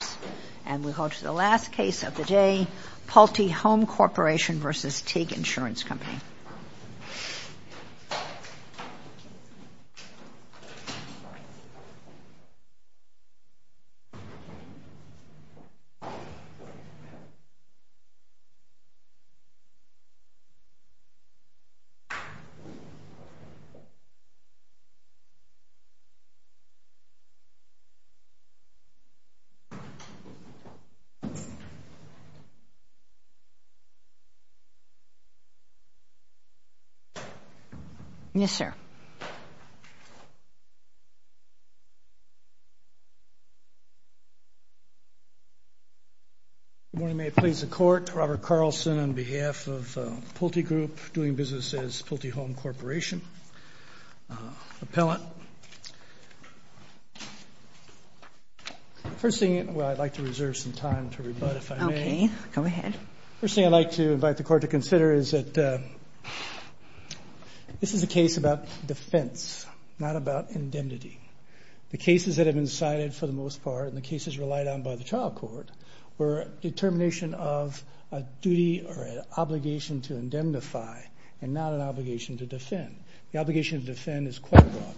Pulte Home Corp. v. TIG Insurance Co. Pulte Home Corp. v. TIG Insurance Corp. Pulte Home Corp. v. TIG Insurance Corp. Good morning, may it please the Court. Robert Carlson on behalf of Pulte Group doing business as Pulte Home Corp. Appellant. First thing, well I'd like to reserve some time to rebut if I may. Okay, go ahead. First thing I'd like to invite the Court to consider is that this is a case about defense, not about indemnity. The cases that have been cited for the most part and the cases relied on by the trial court were a determination of a duty or an obligation to indemnify and not an obligation to defend. The obligation to defend is quite wrong.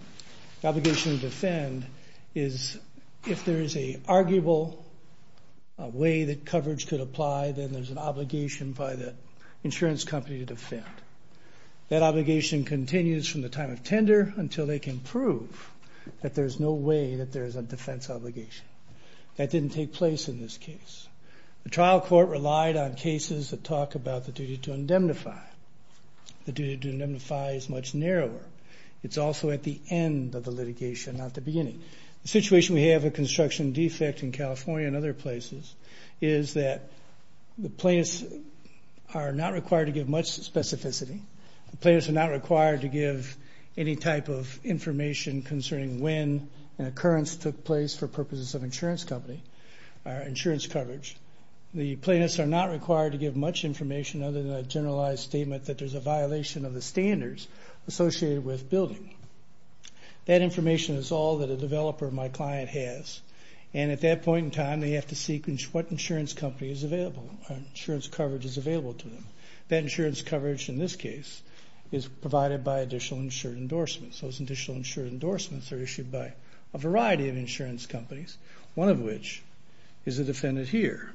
The obligation to defend is if there is an arguable way that coverage could apply, then there's an obligation by the insurance company to defend. That obligation continues from the time of tender until they can prove that there's no way that there's a defense obligation. That didn't take place in this case. The trial court relied on cases that talk about the duty to indemnify. The duty to indemnify is much narrower. It's also at the end of the litigation, not the beginning. The situation we have with construction defect in California and other places is that the plaintiffs are not required to give much specificity. The plaintiffs are not required to give any type of information concerning when an occurrence took place for purposes of insurance coverage. The plaintiffs are not required to give much information other than a generalized statement that there's a violation of the standards associated with building. That information is all that a developer of my client has, and at that point in time they have to seek what insurance company is available, what insurance coverage is available to them. That insurance coverage in this case is provided by additional insurance endorsements. Those additional insurance endorsements are issued by a variety of insurance companies, one of which is a defendant here.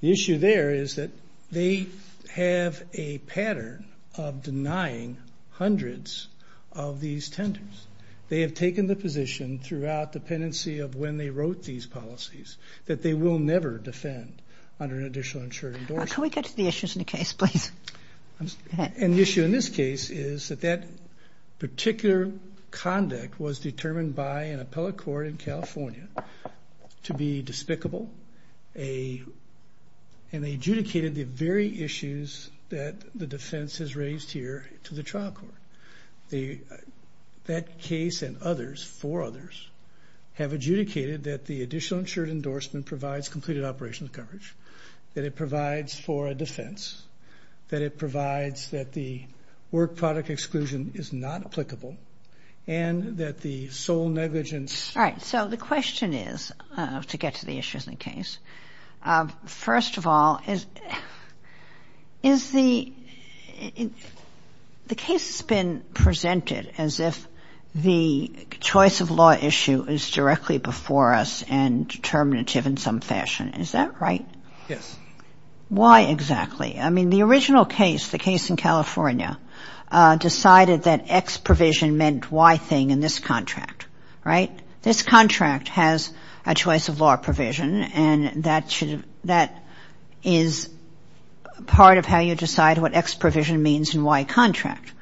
The issue there is that they have a pattern of denying hundreds of these tenders. They have taken the position throughout dependency of when they wrote these policies that they will never defend under an additional insurance endorsement. Can we get to the issues in the case, please? And the issue in this case is that that particular conduct was determined by an appellate court in California to be despicable, and they adjudicated the very issues that the defense has raised here to the trial court. That case and others, four others, have adjudicated that the additional insurance endorsement provides completed operational coverage, that it provides for a defense, that it provides that the work product exclusion is not applicable, and that the sole negligence. All right. So the question is, to get to the issues in the case, first of all, the case has been presented as if the choice of law issue is directly before us and determinative in some fashion. Is that right? Yes. Why exactly? I mean, the original case, the case in California, decided that X provision meant Y thing in this contract. Right? This contract has a choice of law provision, and that is part of how you decide what X provision means in Y contract,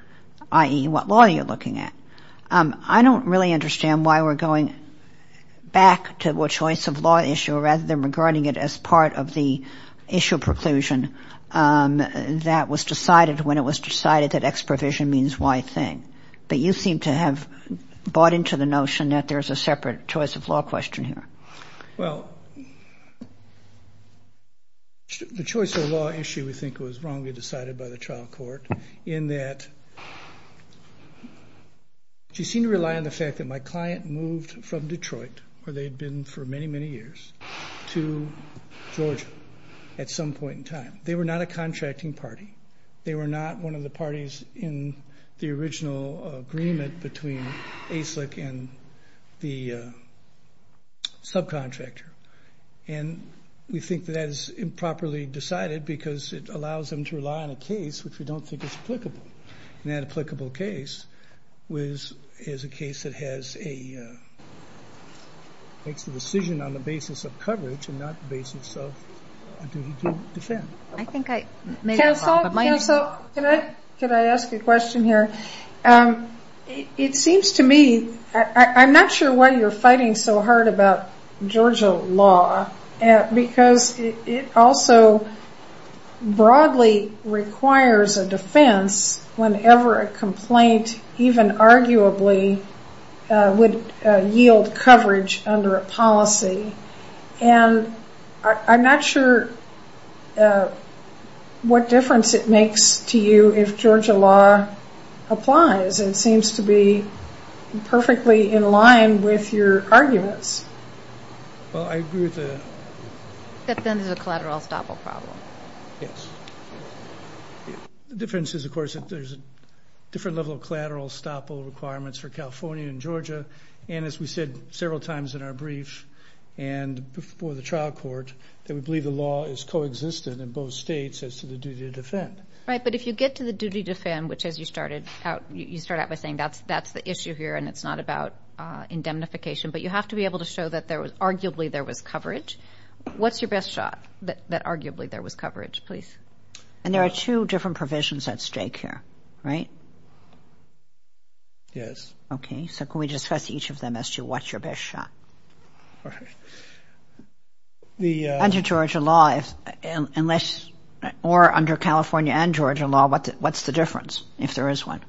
i.e., what law you're looking at. I don't really understand why we're going back to a choice of law issue rather than regarding it as part of the issue preclusion that was decided when it was decided that X provision means Y thing. But you seem to have bought into the notion that there's a separate choice of law question here. Well, the choice of law issue, we think, was wrongly decided by the trial court in that She seemed to rely on the fact that my client moved from Detroit, where they'd been for many, many years, to Georgia at some point in time. They were not a contracting party. They were not one of the parties in the original agreement between ASLIC and the subcontractor. And we think that that is improperly decided because it allows them to rely on a case which we don't think is applicable. And that applicable case is a case that makes the decision on the basis of coverage and not the basis of duty to defend. I think I made it up. Counsel, can I ask a question here? It seems to me, I'm not sure why you're fighting so hard about Georgia law, because it also broadly requires a defense whenever a complaint even arguably would yield coverage under a policy. And I'm not sure what difference it makes to you if Georgia law applies. It seems to be perfectly in line with your arguments. Well, I agree with the... That then there's a collateral estoppel problem. Yes. The difference is, of course, that there's a different level of collateral estoppel requirements for California and Georgia, and as we said several times in our brief and before the trial court, that we believe the law is coexistent in both states as to the duty to defend. Right, but if you get to the duty to defend, which as you started out, you start out by saying that's the issue here and it's not about indemnification, but you have to be able to show that arguably there was coverage. What's your best shot that arguably there was coverage, please? And there are two different provisions at stake here, right? Yes. Okay, so can we discuss each of them as to what's your best shot? Under Georgia law, or under California and Georgia law, what's the difference, if there is one?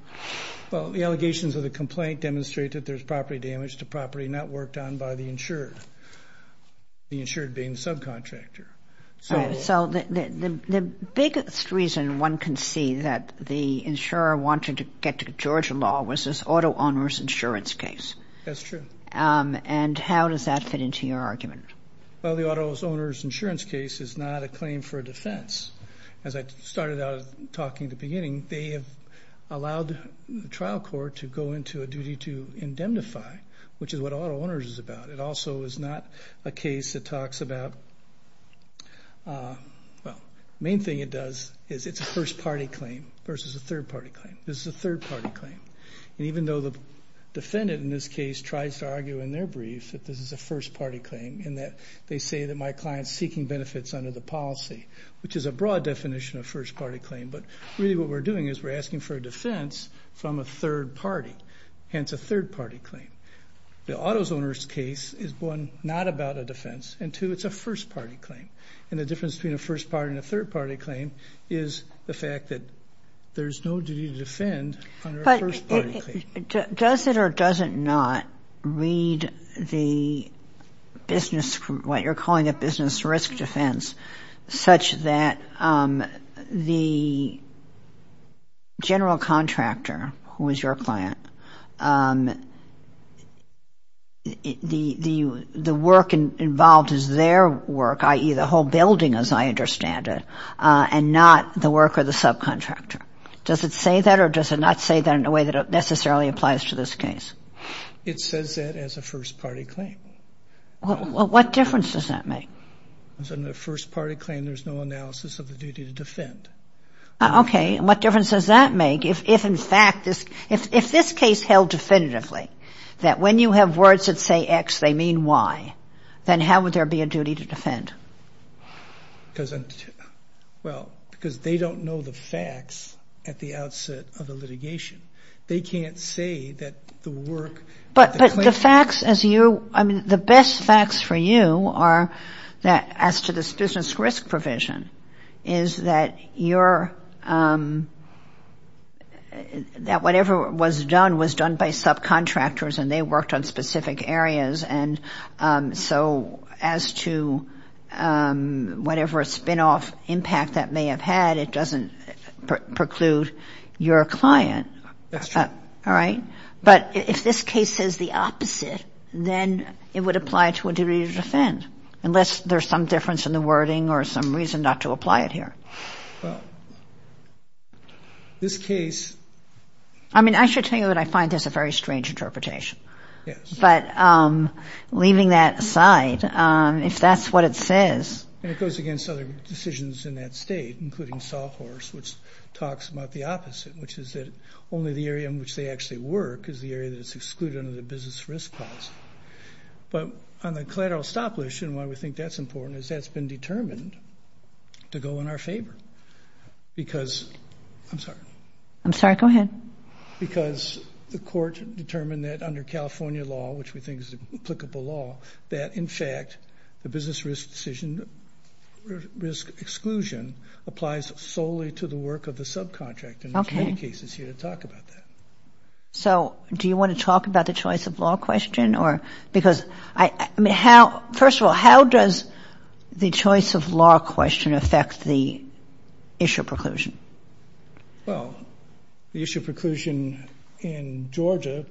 Well, the allegations of the complaint demonstrate that there's property damage to property not worked on by the insured, the insured being the subcontractor. So the biggest reason one can see that the insurer wanted to get to Georgia law was this auto owner's insurance case. That's true. And how does that fit into your argument? Well, the auto owner's insurance case is not a claim for defense. As I started out talking at the beginning, they have allowed the trial court to go into a duty to indemnify, which is what auto owner's is about. It also is not a case that talks about, well, the main thing it does is it's a first-party claim versus a third-party claim. This is a third-party claim. And even though the defendant in this case tries to argue in their brief that this is a first-party claim in that they say that my client's seeking benefits under the policy, which is a broad definition of first-party claim, but really what we're doing is we're asking for a defense from a third party, hence a third-party claim. The auto owner's case is, one, not about a defense, and, two, it's a first-party claim. And the difference between a first-party and a third-party claim is the fact that there's no duty to defend under a first-party claim. Does it or does it not read the business, what you're calling a business risk defense, such that the general contractor, who is your client, the work involved is their work, i.e., the whole building as I understand it, and not the work of the subcontractor? Does it say that or does it not say that in a way that it necessarily applies to this case? It says that as a first-party claim. Well, what difference does that make? As a first-party claim, there's no analysis of the duty to defend. Okay. And what difference does that make if, in fact, if this case held definitively, that when you have words that say X, they mean Y, then how would there be a duty to defend? Because, well, because they don't know the facts at the outset of the litigation. They can't say that the work of the claimant... But the facts as you, I mean, the best facts for you are that as to this business risk provision is that you're, that whatever was done was done by subcontractors and they worked on specific areas. And so as to whatever spinoff impact that may have had, it doesn't preclude your client. That's true. All right? But if this case says the opposite, then it would apply to a duty to defend, unless there's some difference in the wording or some reason not to apply it here. Well, this case... I mean, I should tell you that I find this a very strange interpretation. Yes. But leaving that aside, if that's what it says... And it goes against other decisions in that state, including Salt Horse, which talks about the opposite, which is that only the area in which they actually work is the area that is excluded under the business risk clause. But on the collateral stop list, and why we think that's important, is that's been determined to go in our favor because... I'm sorry. I'm sorry. Go ahead. Because the court determined that under California law, which we think is applicable law, that, in fact, the business risk exclusion applies solely to the work of the subcontractor. Okay. And there's many cases here that talk about that. So do you want to talk about the choice of law question? Because, I mean, first of all, how does the choice of law question affect the issue of preclusion? Well, the issue of preclusion in Georgia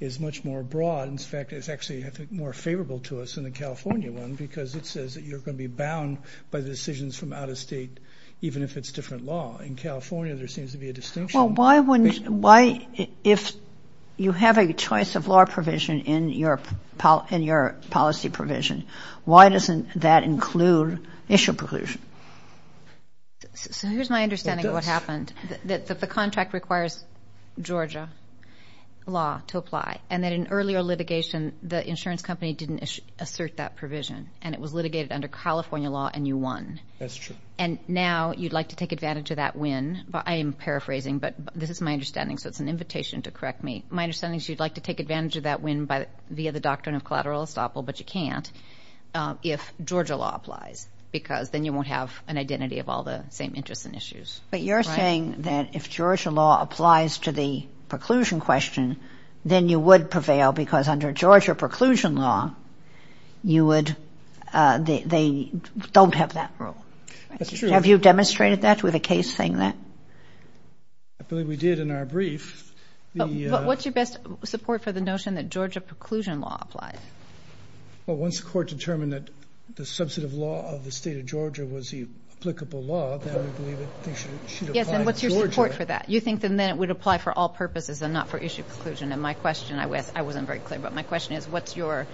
is much more broad. In fact, it's actually, I think, more favorable to us than the California one because it says that you're going to be bound by the decisions from out of state, even if it's different law. In California, there seems to be a distinction. Well, why if you have a choice of law provision in your policy provision, why doesn't that include issue preclusion? So here's my understanding of what happened, that the contract requires Georgia law to apply, and that in earlier litigation, the insurance company didn't assert that provision, and it was litigated under California law, and you won. That's true. And now you'd like to take advantage of that win. I am paraphrasing, but this is my understanding, so it's an invitation to correct me. My understanding is you'd like to take advantage of that win via the doctrine of collateral estoppel, but you can't if Georgia law applies because then you won't have an identity of all the same interests and issues. But you're saying that if Georgia law applies to the preclusion question, then you would prevail because under Georgia preclusion law, you would, they don't have that rule. That's true. Have you demonstrated that with a case saying that? I believe we did in our brief. What's your best support for the notion that Georgia preclusion law applies? Well, once the court determined that the substantive law of the state of Georgia was the applicable law, then we believe it should apply to Georgia. Yes, and what's your support for that? You think then it would apply for all purposes and not for issue preclusion. And my question, I wasn't very clear, but my question is, what's your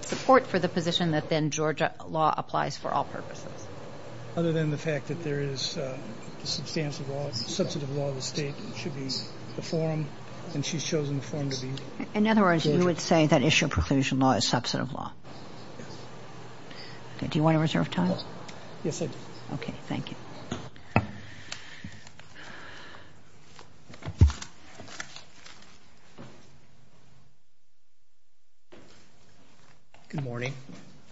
support for the position that then Georgia law applies for all purposes? Other than the fact that there is the substantive law of the state, it should be the forum, and she's chosen the forum to be. In other words, you would say that issue preclusion law is substantive law? Yes. Do you want to reserve time? Yes, I do. Okay, thank you. Thank you. Good morning.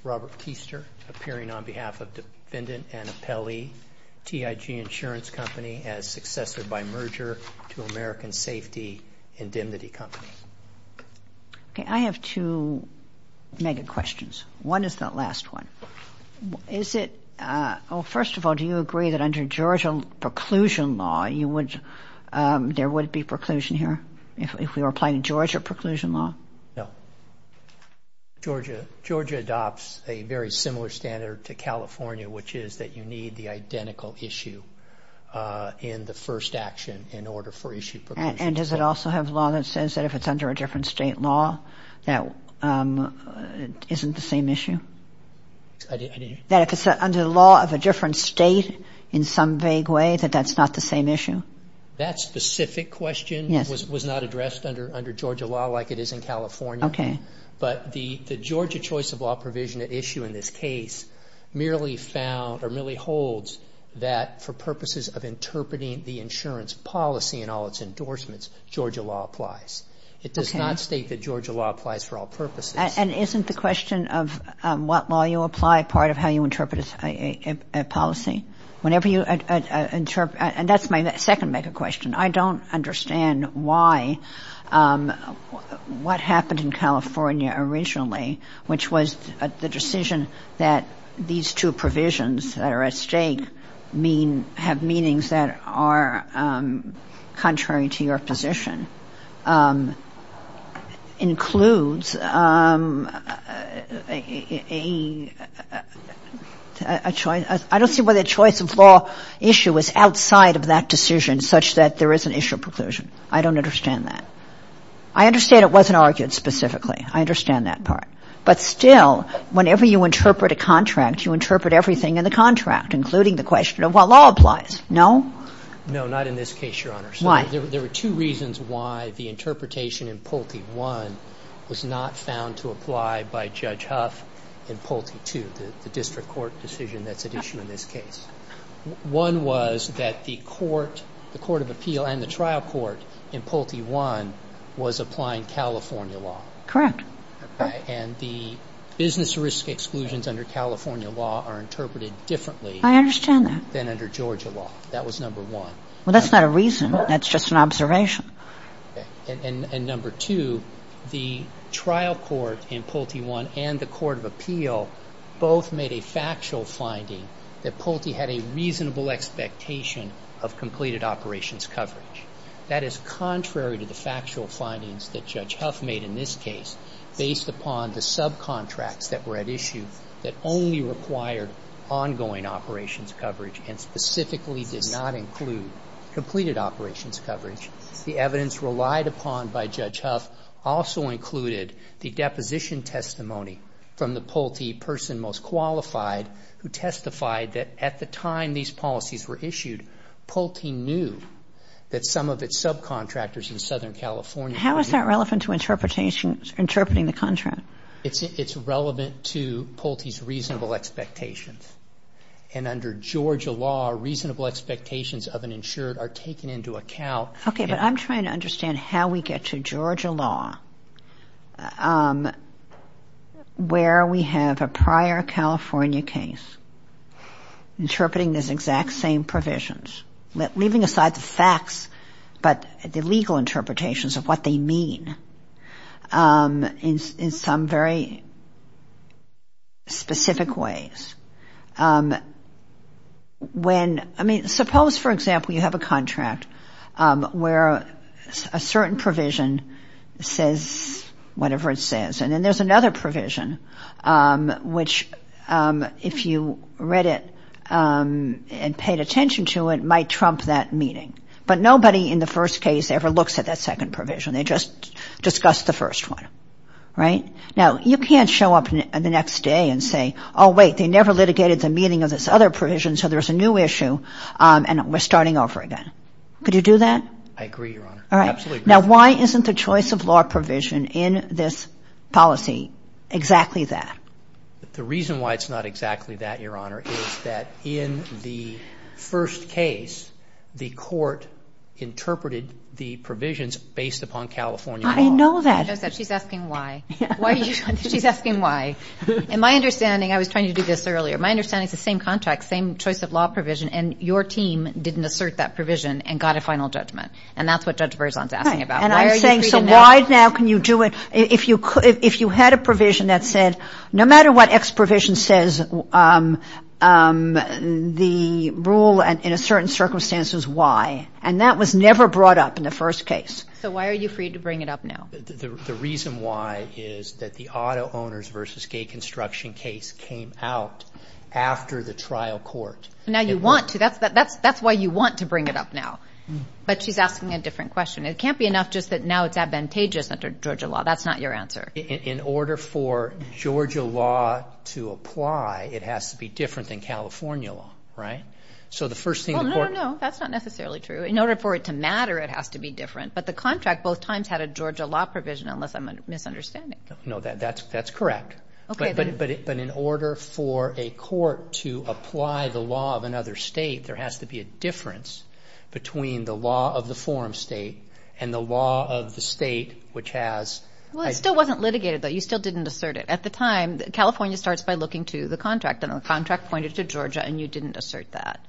Robert Keister, appearing on behalf of Defendant Anna Pelley, TIG Insurance Company as successor by merger to American Safety Indemnity Company. Okay, I have two mega questions. One is the last one. First of all, do you agree that under Georgia preclusion law, there would be preclusion here if we were applying Georgia preclusion law? No. Georgia adopts a very similar standard to California, which is that you need the identical issue in the first action in order for issue preclusion. And does it also have law that says that if it's under a different state law, that isn't the same issue? I didn't hear you. That if it's under the law of a different state in some vague way, that that's not the same issue? That specific question was not addressed under Georgia law like it is in California. Okay. But the Georgia choice of law provision issue in this case merely found or merely holds that for purposes of interpreting the insurance policy and all its endorsements, Georgia law applies. Okay. I did not state that Georgia law applies for all purposes. And isn't the question of what law you apply part of how you interpret a policy? Whenever you interpret – and that's my second mega question. I don't understand why – what happened in California originally, which was the decision that these two provisions that are at stake mean – includes a choice – I don't see why the choice of law issue is outside of that decision such that there is an issue of preclusion. I don't understand that. I understand it wasn't argued specifically. I understand that part. But still, whenever you interpret a contract, you interpret everything in the contract, including the question of what law applies. No? No, not in this case, Your Honor. Why? There were two reasons why the interpretation in Pulte I was not found to apply by Judge Huff in Pulte II, the district court decision that's at issue in this case. One was that the court – the court of appeal and the trial court in Pulte I was applying California law. Correct. And the business risk exclusions under California law are interpreted differently. I understand that. Than under Georgia law. That was number one. Well, that's not a reason. That's just an observation. And number two, the trial court in Pulte I and the court of appeal both made a factual finding that Pulte had a reasonable expectation of completed operations coverage. That is contrary to the factual findings that Judge Huff made in this case based upon the subcontracts that were at issue that only required ongoing operations coverage and specifically did not include completed operations coverage. The evidence relied upon by Judge Huff also included the deposition testimony from the Pulte person most qualified who testified that at the time these policies were issued, Pulte knew that some of its subcontractors in Southern California How is that relevant to interpretation – interpreting the contract? It's relevant to Pulte's reasonable expectations. And under Georgia law, reasonable expectations of an insured are taken into account. Okay, but I'm trying to understand how we get to Georgia law where we have a prior California case interpreting these exact same provisions, leaving aside the facts but the legal interpretations of what they mean in some very specific ways. I mean suppose for example you have a contract where a certain provision says whatever it says and then there's another provision which if you read it and paid attention to it might trump that meeting. But nobody in the first case ever looks at that second provision. They just discuss the first one, right? Now you can't show up the next day and say oh wait, they never litigated the meeting of this other provision so there's a new issue and we're starting over again. Could you do that? I agree, Your Honor. All right. Now why isn't the choice of law provision in this policy exactly that? The reason why it's not exactly that, Your Honor, is that in the first case the court interpreted the provisions based upon California law. I know that. She's asking why. She's asking why. In my understanding, I was trying to do this earlier, my understanding is the same contract, same choice of law provision and your team didn't assert that provision and got a final judgment and that's what Judge Berzon is asking about. And I'm saying so why now can you do it if you had a provision that said No matter what X provision says, the rule in a certain circumstance is Y and that was never brought up in the first case. So why are you free to bring it up now? The reason why is that the auto owners versus gay construction case came out after the trial court. Now you want to. That's why you want to bring it up now. But she's asking a different question. It can't be enough just that now it's advantageous under Georgia law. That's not your answer. In order for Georgia law to apply, it has to be different than California law. Right? No, no, no. That's not necessarily true. In order for it to matter, it has to be different. But the contract both times had a Georgia law provision unless I'm misunderstanding. No, that's correct. But in order for a court to apply the law of another state, there has to be a difference between the law of the forum state and the law of the state which has. Well, it still wasn't litigated, though. You still didn't assert it. At the time, California starts by looking to the contract, and the contract pointed to Georgia, and you didn't assert that.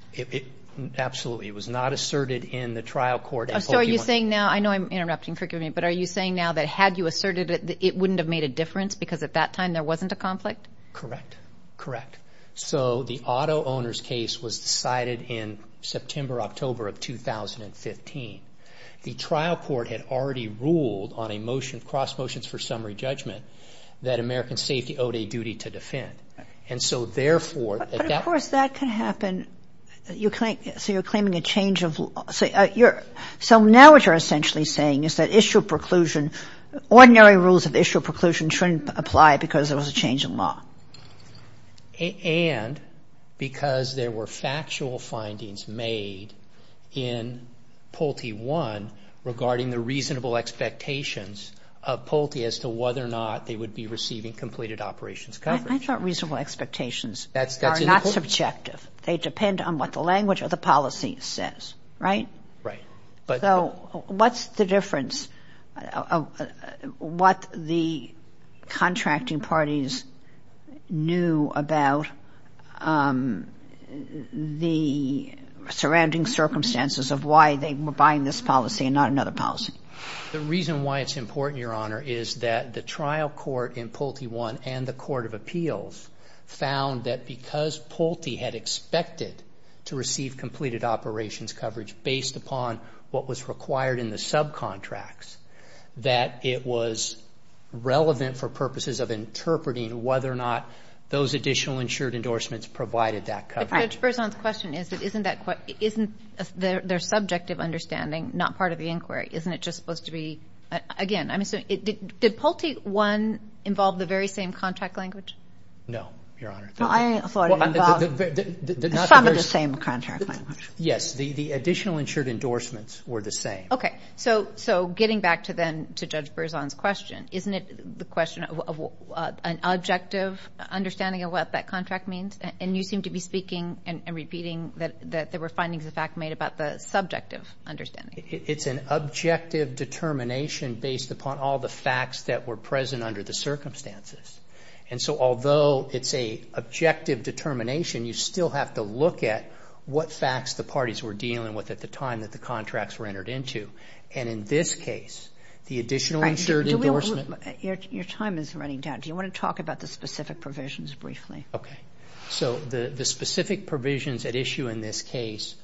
Absolutely. It was not asserted in the trial court. So are you saying now? I know I'm interrupting. Forgive me. But are you saying now that had you asserted it, it wouldn't have made a difference because at that time there wasn't a conflict? Correct. Correct. So the auto owners case was decided in September, October of 2015. The trial court had already ruled on a motion, cross motions for summary judgment, that American safety owed a duty to defend. And so therefore at that time. But of course that can happen. So you're claiming a change of law. So now what you're essentially saying is that issue of preclusion, ordinary rules of issue of preclusion shouldn't apply because there was a change in law. And because there were factual findings made in Pulte I regarding the reasonable expectations of Pulte as to whether or not they would be receiving completed operations coverage. I thought reasonable expectations are not subjective. They depend on what the language of the policy says. Right? Right. So what's the difference? What the contracting parties knew about the surrounding circumstances of why they were buying this policy and not another policy? The reason why it's important, Your Honor, is that the trial court in Pulte I and the court of appeals found that because Pulte had expected to receive completed operations coverage based upon what was required in the subcontracts, that it was relevant for purposes of interpreting whether or not those additional insured endorsements provided that coverage. But Judge Berzon's question is, isn't their subjective understanding not part of the inquiry? Isn't it just supposed to be, again, did Pulte I involve the very same contract language? No, Your Honor. Well, I thought it involved some of the same contract language. Yes. The additional insured endorsements were the same. Okay. So getting back to then to Judge Berzon's question, isn't it the question of an objective understanding of what that contract means? And you seem to be speaking and repeating that there were findings of fact made about the subjective understanding. It's an objective determination based upon all the facts that were present under the circumstances. And so although it's a objective determination, you still have to look at what facts the parties were dealing with at the time that the contracts were entered into. And in this case, the additional insured endorsement. Your time is running down. Do you want to talk about the specific provisions briefly? Okay. So the specific provisions at issue in this case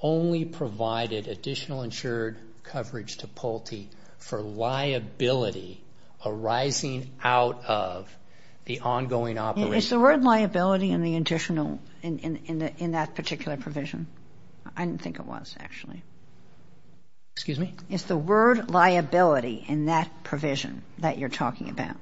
only provided additional insured coverage to Pulte for liability arising out of the ongoing operation. Is the word liability in the additional, in that particular provision? I didn't think it was, actually. Excuse me? Is the word liability in that provision that you're talking about?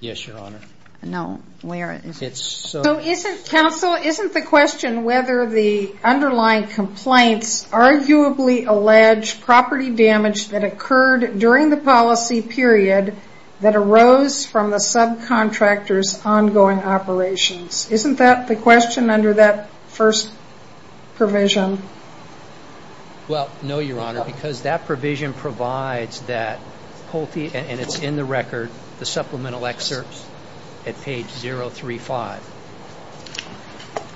Yes, Your Honor. No. Where is it? So isn't, counsel, isn't the question whether the underlying complaints arguably allege property damage that occurred during the policy period that arose from the subcontractor's ongoing operations? Isn't that the question under that first provision? Well, no, Your Honor, because that provision provides that Pulte, and it's in the record, the supplemental excerpts at page 035,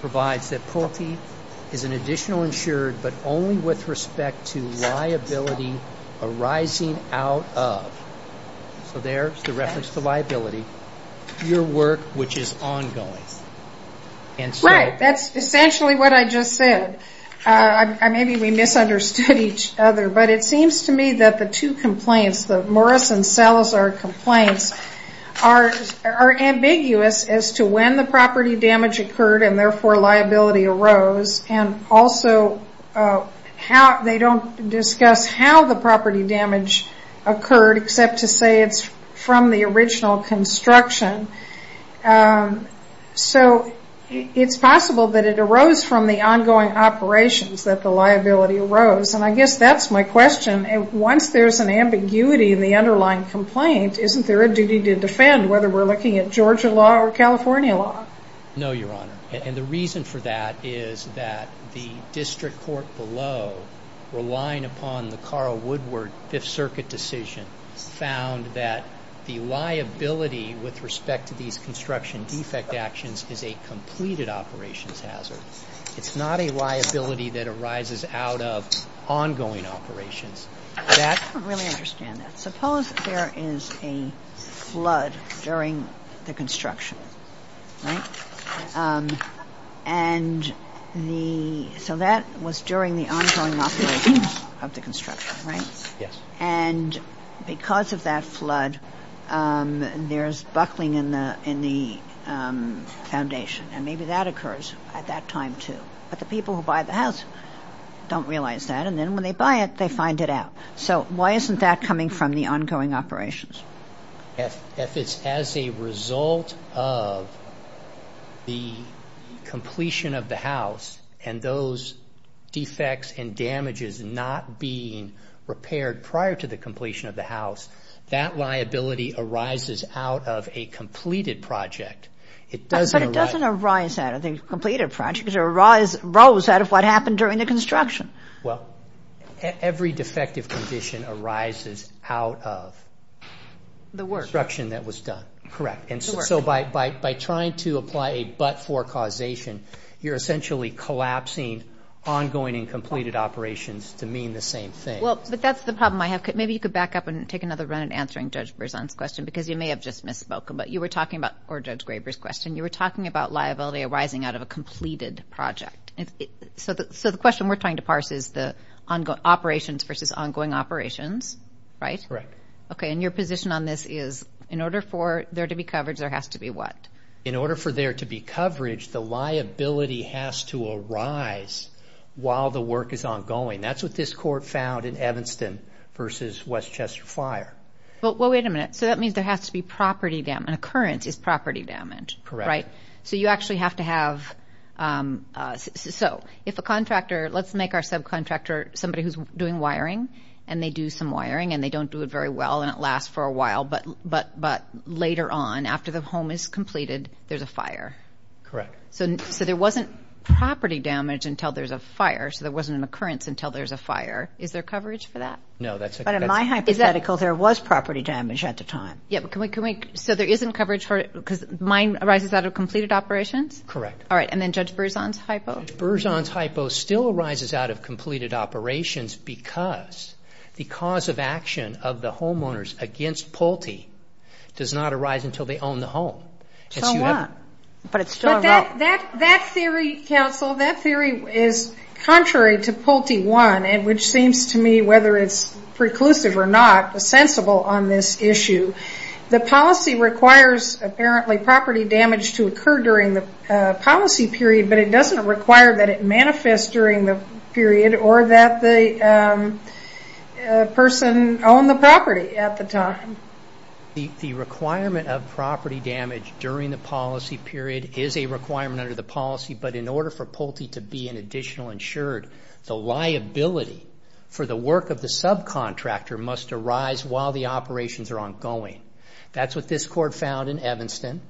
provides that Pulte is an additional insured, but only with respect to liability arising out of. So there's the reference to liability. Your work, which is ongoing. Right. That's essentially what I just said. Maybe we misunderstood each other, but it seems to me that the two complaints, the Morris and Salazar complaints, are ambiguous as to when the property damage occurred and therefore liability arose, and also they don't discuss how the property damage occurred except to say it's from the original construction. So it's possible that it arose from the ongoing operations that the liability arose, and I guess that's my question. Once there's an ambiguity in the underlying complaint, isn't there a duty to defend whether we're looking at Georgia law or California law? No, Your Honor, and the reason for that is that the district court below relying upon the Carl the liability with respect to these construction defect actions is a completed operations hazard. It's not a liability that arises out of ongoing operations. I don't really understand that. Suppose there is a flood during the construction, right? And so that was during the ongoing operations of the construction, right? Yes. And because of that flood, there's buckling in the foundation, and maybe that occurs at that time too. But the people who buy the house don't realize that, and then when they buy it, they find it out. So why isn't that coming from the ongoing operations? If it's as a result of the completion of the house and those defects and damages not being repaired prior to the completion of the house, that liability arises out of a completed project. But it doesn't arise out of the completed project. It arose out of what happened during the construction. Well, every defective condition arises out of the construction that was done. Correct. And so by trying to apply a but-for causation, you're essentially collapsing ongoing and completed operations to mean the same thing. Well, but that's the problem I have. Maybe you could back up and take another run at answering Judge Berzon's question because you may have just misspoken. But you were talking about, or Judge Graber's question, you were talking about liability arising out of a completed project. So the question we're trying to parse is the operations versus ongoing operations, right? Correct. Okay, and your position on this is in order for there to be coverage, there has to be what? In order for there to be coverage, the liability has to arise while the work is ongoing. That's what this court found in Evanston versus Westchester Fire. Well, wait a minute. So that means there has to be property damage. An occurrence is property damage, right? Correct. So you actually have to have – so if a contractor – let's make our subcontractor somebody who's doing wiring and they do some wiring and they don't do it very well and it lasts for a while, but later on, after the home is completed, there's a fire. Correct. So there wasn't property damage until there's a fire, so there wasn't an occurrence until there's a fire. Is there coverage for that? No, that's – But in my hypothetical, there was property damage at the time. Yeah, but can we – so there isn't coverage for – because mine arises out of completed operations? All right, and then Judge Berzon's hypo? Judge Berzon's hypo still arises out of completed operations because the cause of action of the homeowners against Pulte does not arise until they own the home. So what? But it's still a right. But that theory, counsel, that theory is contrary to Pulte 1, which seems to me, whether it's preclusive or not, sensible on this issue. The policy requires, apparently, property damage to occur during the policy period, but it doesn't require that it manifests during the period or that the person owned the property at the time. The requirement of property damage during the policy period is a requirement under the policy, but in order for Pulte to be an additional insured, the liability for the work of the subcontractor must arise while the operations are ongoing. That's what this Court found in Evanston,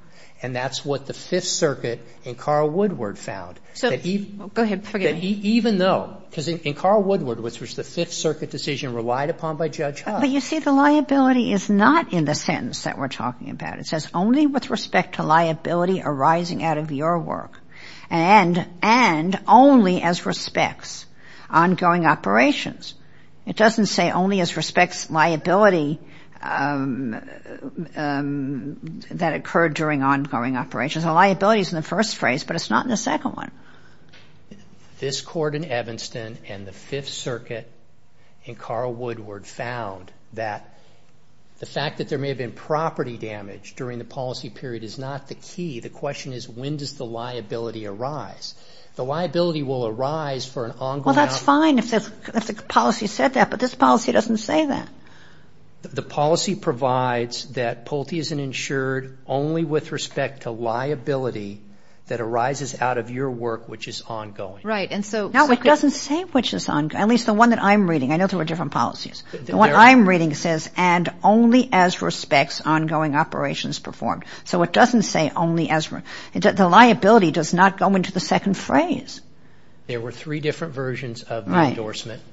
and that's what the Fifth Circuit in Carl Woodward found. So go ahead. Even though – because in Carl Woodward, which was the Fifth Circuit decision relied upon by Judge Huff. But you see, the liability is not in the sentence that we're talking about. It says, only with respect to liability arising out of your work and only as respects ongoing operations. It doesn't say only as respects liability that occurred during ongoing operations. The liability is in the first phrase, but it's not in the second one. This Court in Evanston and the Fifth Circuit in Carl Woodward found that the fact that there may have been property damage during the policy period is not the key. The question is, when does the liability arise? The liability will arise for an ongoing operation. Well, that's fine if the policy said that, but this policy doesn't say that. The policy provides that Pulte isn't insured only with respect to liability that arises out of your work, which is ongoing. Right. Now, it doesn't say which is ongoing, at least the one that I'm reading. I know there were different policies. The one I'm reading says, and only as respects ongoing operations performed. So it doesn't say only as – the liability does not go into the second phrase. There were three different versions of the endorsement. Right.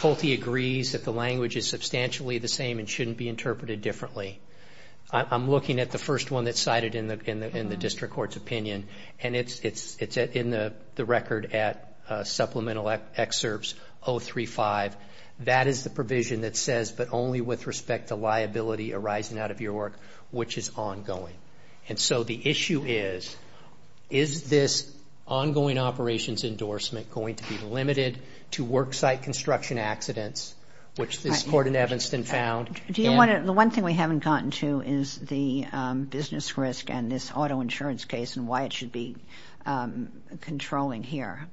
Pulte agrees that the language is substantially the same and shouldn't be interpreted differently. I'm looking at the first one that's cited in the district court's opinion, and it's in the record at supplemental excerpts 035. That is the provision that says, but only with respect to liability arising out of your work, which is ongoing. And so the issue is, is this ongoing operations endorsement going to be limited to worksite construction accidents, which this court in Evanston found? Do you want to – the one thing we haven't gotten to is the business risk and this auto insurance case and why it should be controlling here.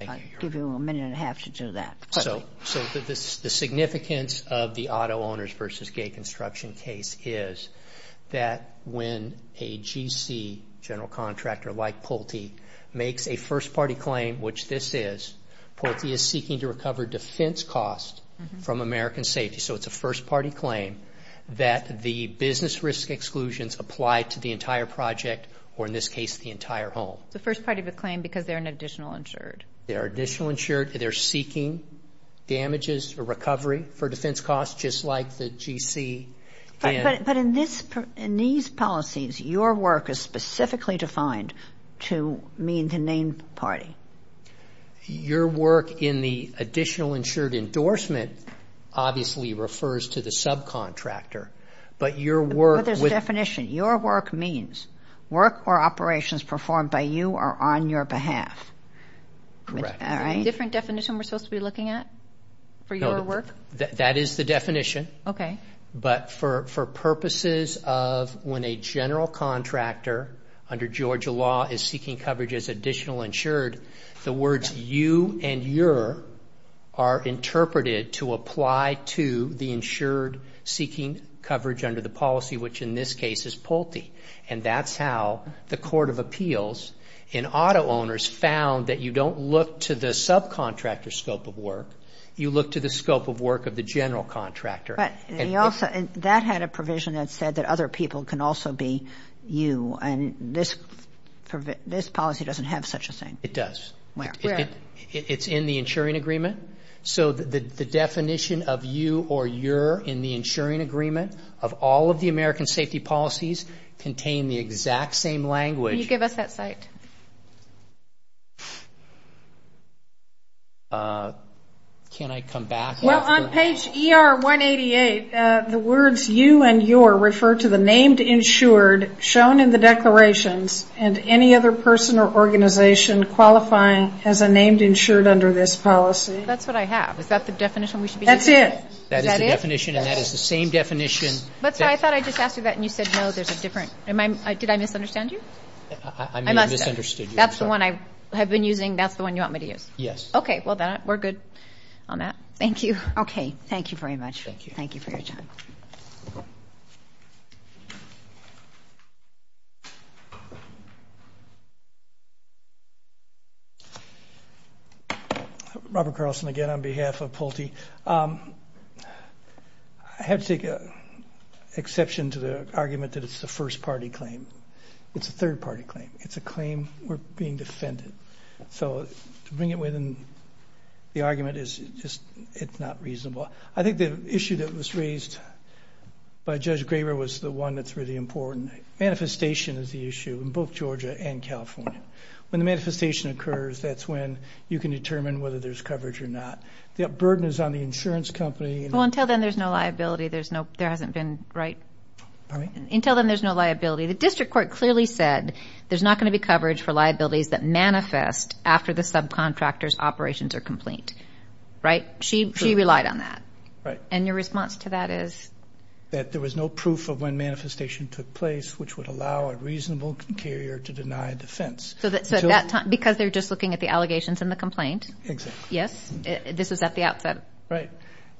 I'll give you a minute and a half to do that. So the significance of the auto owners versus gate construction case is that when a GC, general contractor, like Pulte, makes a first-party claim, which this is, Pulte is seeking to recover defense costs from American Safety. So it's a first-party claim that the business risk exclusions apply to the entire project or, in this case, the entire home. It's a first-party claim because they're an additional insured. They're additional insured. They're seeking damages or recovery for defense costs, just like the GC. But in these policies, your work is specifically defined to mean the named party. Your work in the additional insured endorsement obviously refers to the subcontractor. But your work – But there's a definition. Your work means work or operations performed by you or on your behalf. Correct. Is there a different definition we're supposed to be looking at for your work? That is the definition. Okay. But for purposes of when a general contractor under Georgia law is seeking coverage as additional insured, the words you and your are interpreted to apply to the insured seeking coverage under the policy, which in this case is Pulte. And that's how the Court of Appeals in auto owners found that you don't look to the subcontractor's scope of work. You look to the scope of work of the general contractor. But that had a provision that said that other people can also be you. And this policy doesn't have such a thing. It does. Where? It's in the insuring agreement. So the definition of you or your in the insuring agreement of all of the American safety policies contain the exact same language. Can you give us that site? Can I come back? Well, on page ER-188, the words you and your refer to the named insured shown in the declarations and any other person or organization qualifying as a named insured under this policy. That's what I have. Is that the definition we should be using? That's it. Is that it? That is the definition, and that is the same definition. That's what I thought. I just asked you that, and you said no, there's a different. Did I misunderstand you? I may have misunderstood you. I must have. That's the one I have been using. That's the one you want me to use? Yes. Okay. Well, then we're good on that. Thank you. Okay. Thank you very much. Thank you. Thank you for your time. Robert Carlson again on behalf of Pulte. I have to take exception to the argument that it's a first-party claim. It's a third-party claim. It's a claim we're being defended. So to bring it within the argument is just not reasonable. I think the issue that was raised by Judge Graber was the one that's really important. Manifestation is the issue in both Georgia and California. When the manifestation occurs, that's when you can determine whether there's coverage or not. The burden is on the insurance company. Well, until then, there's no liability. There hasn't been, right? Until then, there's no liability. The district court clearly said there's not going to be coverage for liabilities that manifest after the subcontractor's operations are complete. Right? She relied on that. Right. And your response to that is? That there was no proof of when manifestation took place which would allow a reasonable carrier to deny defense. So at that time, because they're just looking at the allegations and the complaint. Exactly. Yes? This is at the outset. Right.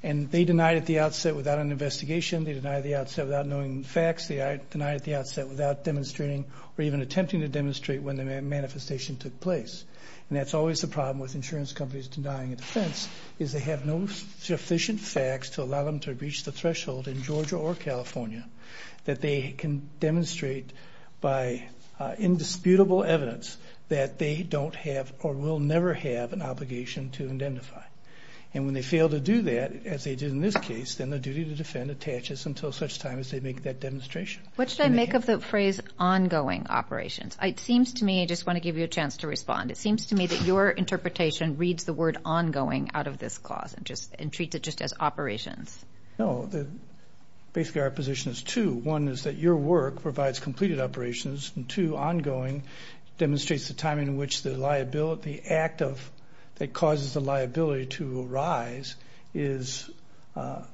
And they denied at the outset without an investigation. They denied at the outset without knowing the facts. They denied at the outset without demonstrating or even attempting to demonstrate when the manifestation took place. And that's always the problem with insurance companies denying a defense is they have no sufficient facts to allow them to reach the threshold in Georgia or California that they can demonstrate by indisputable evidence that they don't have or will never have an obligation to identify. And when they fail to do that, as they did in this case, then the duty to defend attaches until such time as they make that demonstration. What should I make of the phrase ongoing operations? It seems to me, I just want to give you a chance to respond. It seems to me that your interpretation reads the word ongoing out of this clause and treats it just as operations. No, basically our position is two. One is that your work provides completed operations. And two, ongoing demonstrates the time in which the liability, the act that causes the liability to arise is a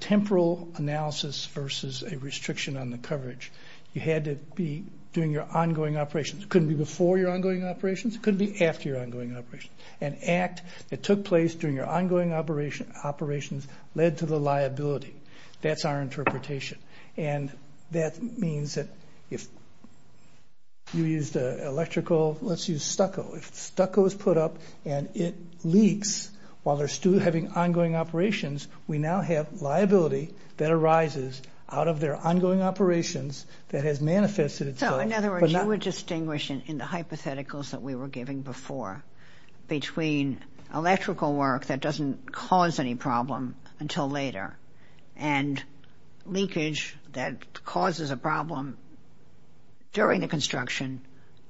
temporal analysis versus a restriction on the coverage. You had to be doing your ongoing operations. It couldn't be before your ongoing operations. It couldn't be after your ongoing operations. An act that took place during your ongoing operations led to the liability. That's our interpretation. And that means that if you used electrical, let's use stucco. If stucco is put up and it leaks while they're still having ongoing operations, we now have liability that arises out of their ongoing operations that has manifested itself. So, in other words, you would distinguish in the hypotheticals that we were giving before between electrical work that doesn't cause any problem until later and leakage that causes a problem during the construction,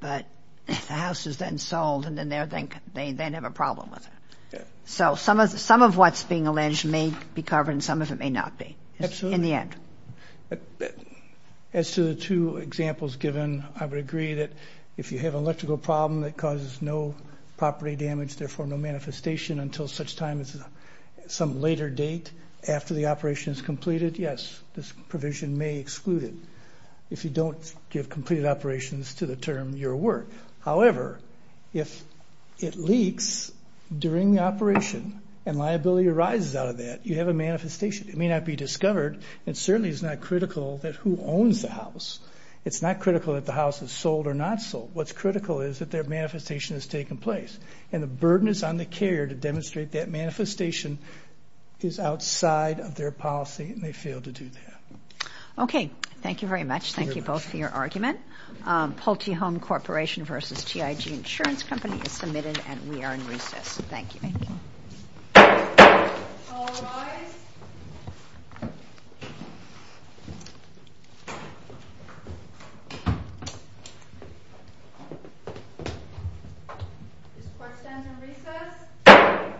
but the house is then sold and then they have a problem with it. So some of what's being alleged may be covered and some of it may not be. Absolutely. In the end. As to the two examples given, I would agree that if you have an electrical problem that causes no property damage, therefore no manifestation until such time as some later date after the operation is completed, yes, this provision may exclude it if you don't give completed operations to the term your work. However, if it leaks during the operation and liability arises out of that, you have a manifestation. It may not be discovered and certainly is not critical that who owns the house. It's not critical that the house is sold or not sold. What's critical is that their manifestation has taken place and the burden is on the carrier to demonstrate that manifestation is outside of their policy and they fail to do that. Okay. Thank you very much. Thank you both for your argument. Pulte Home Corporation v. TIG Insurance Company is submitted and we are in recess. Thank you. Thank you. All rise. This court stands in recess.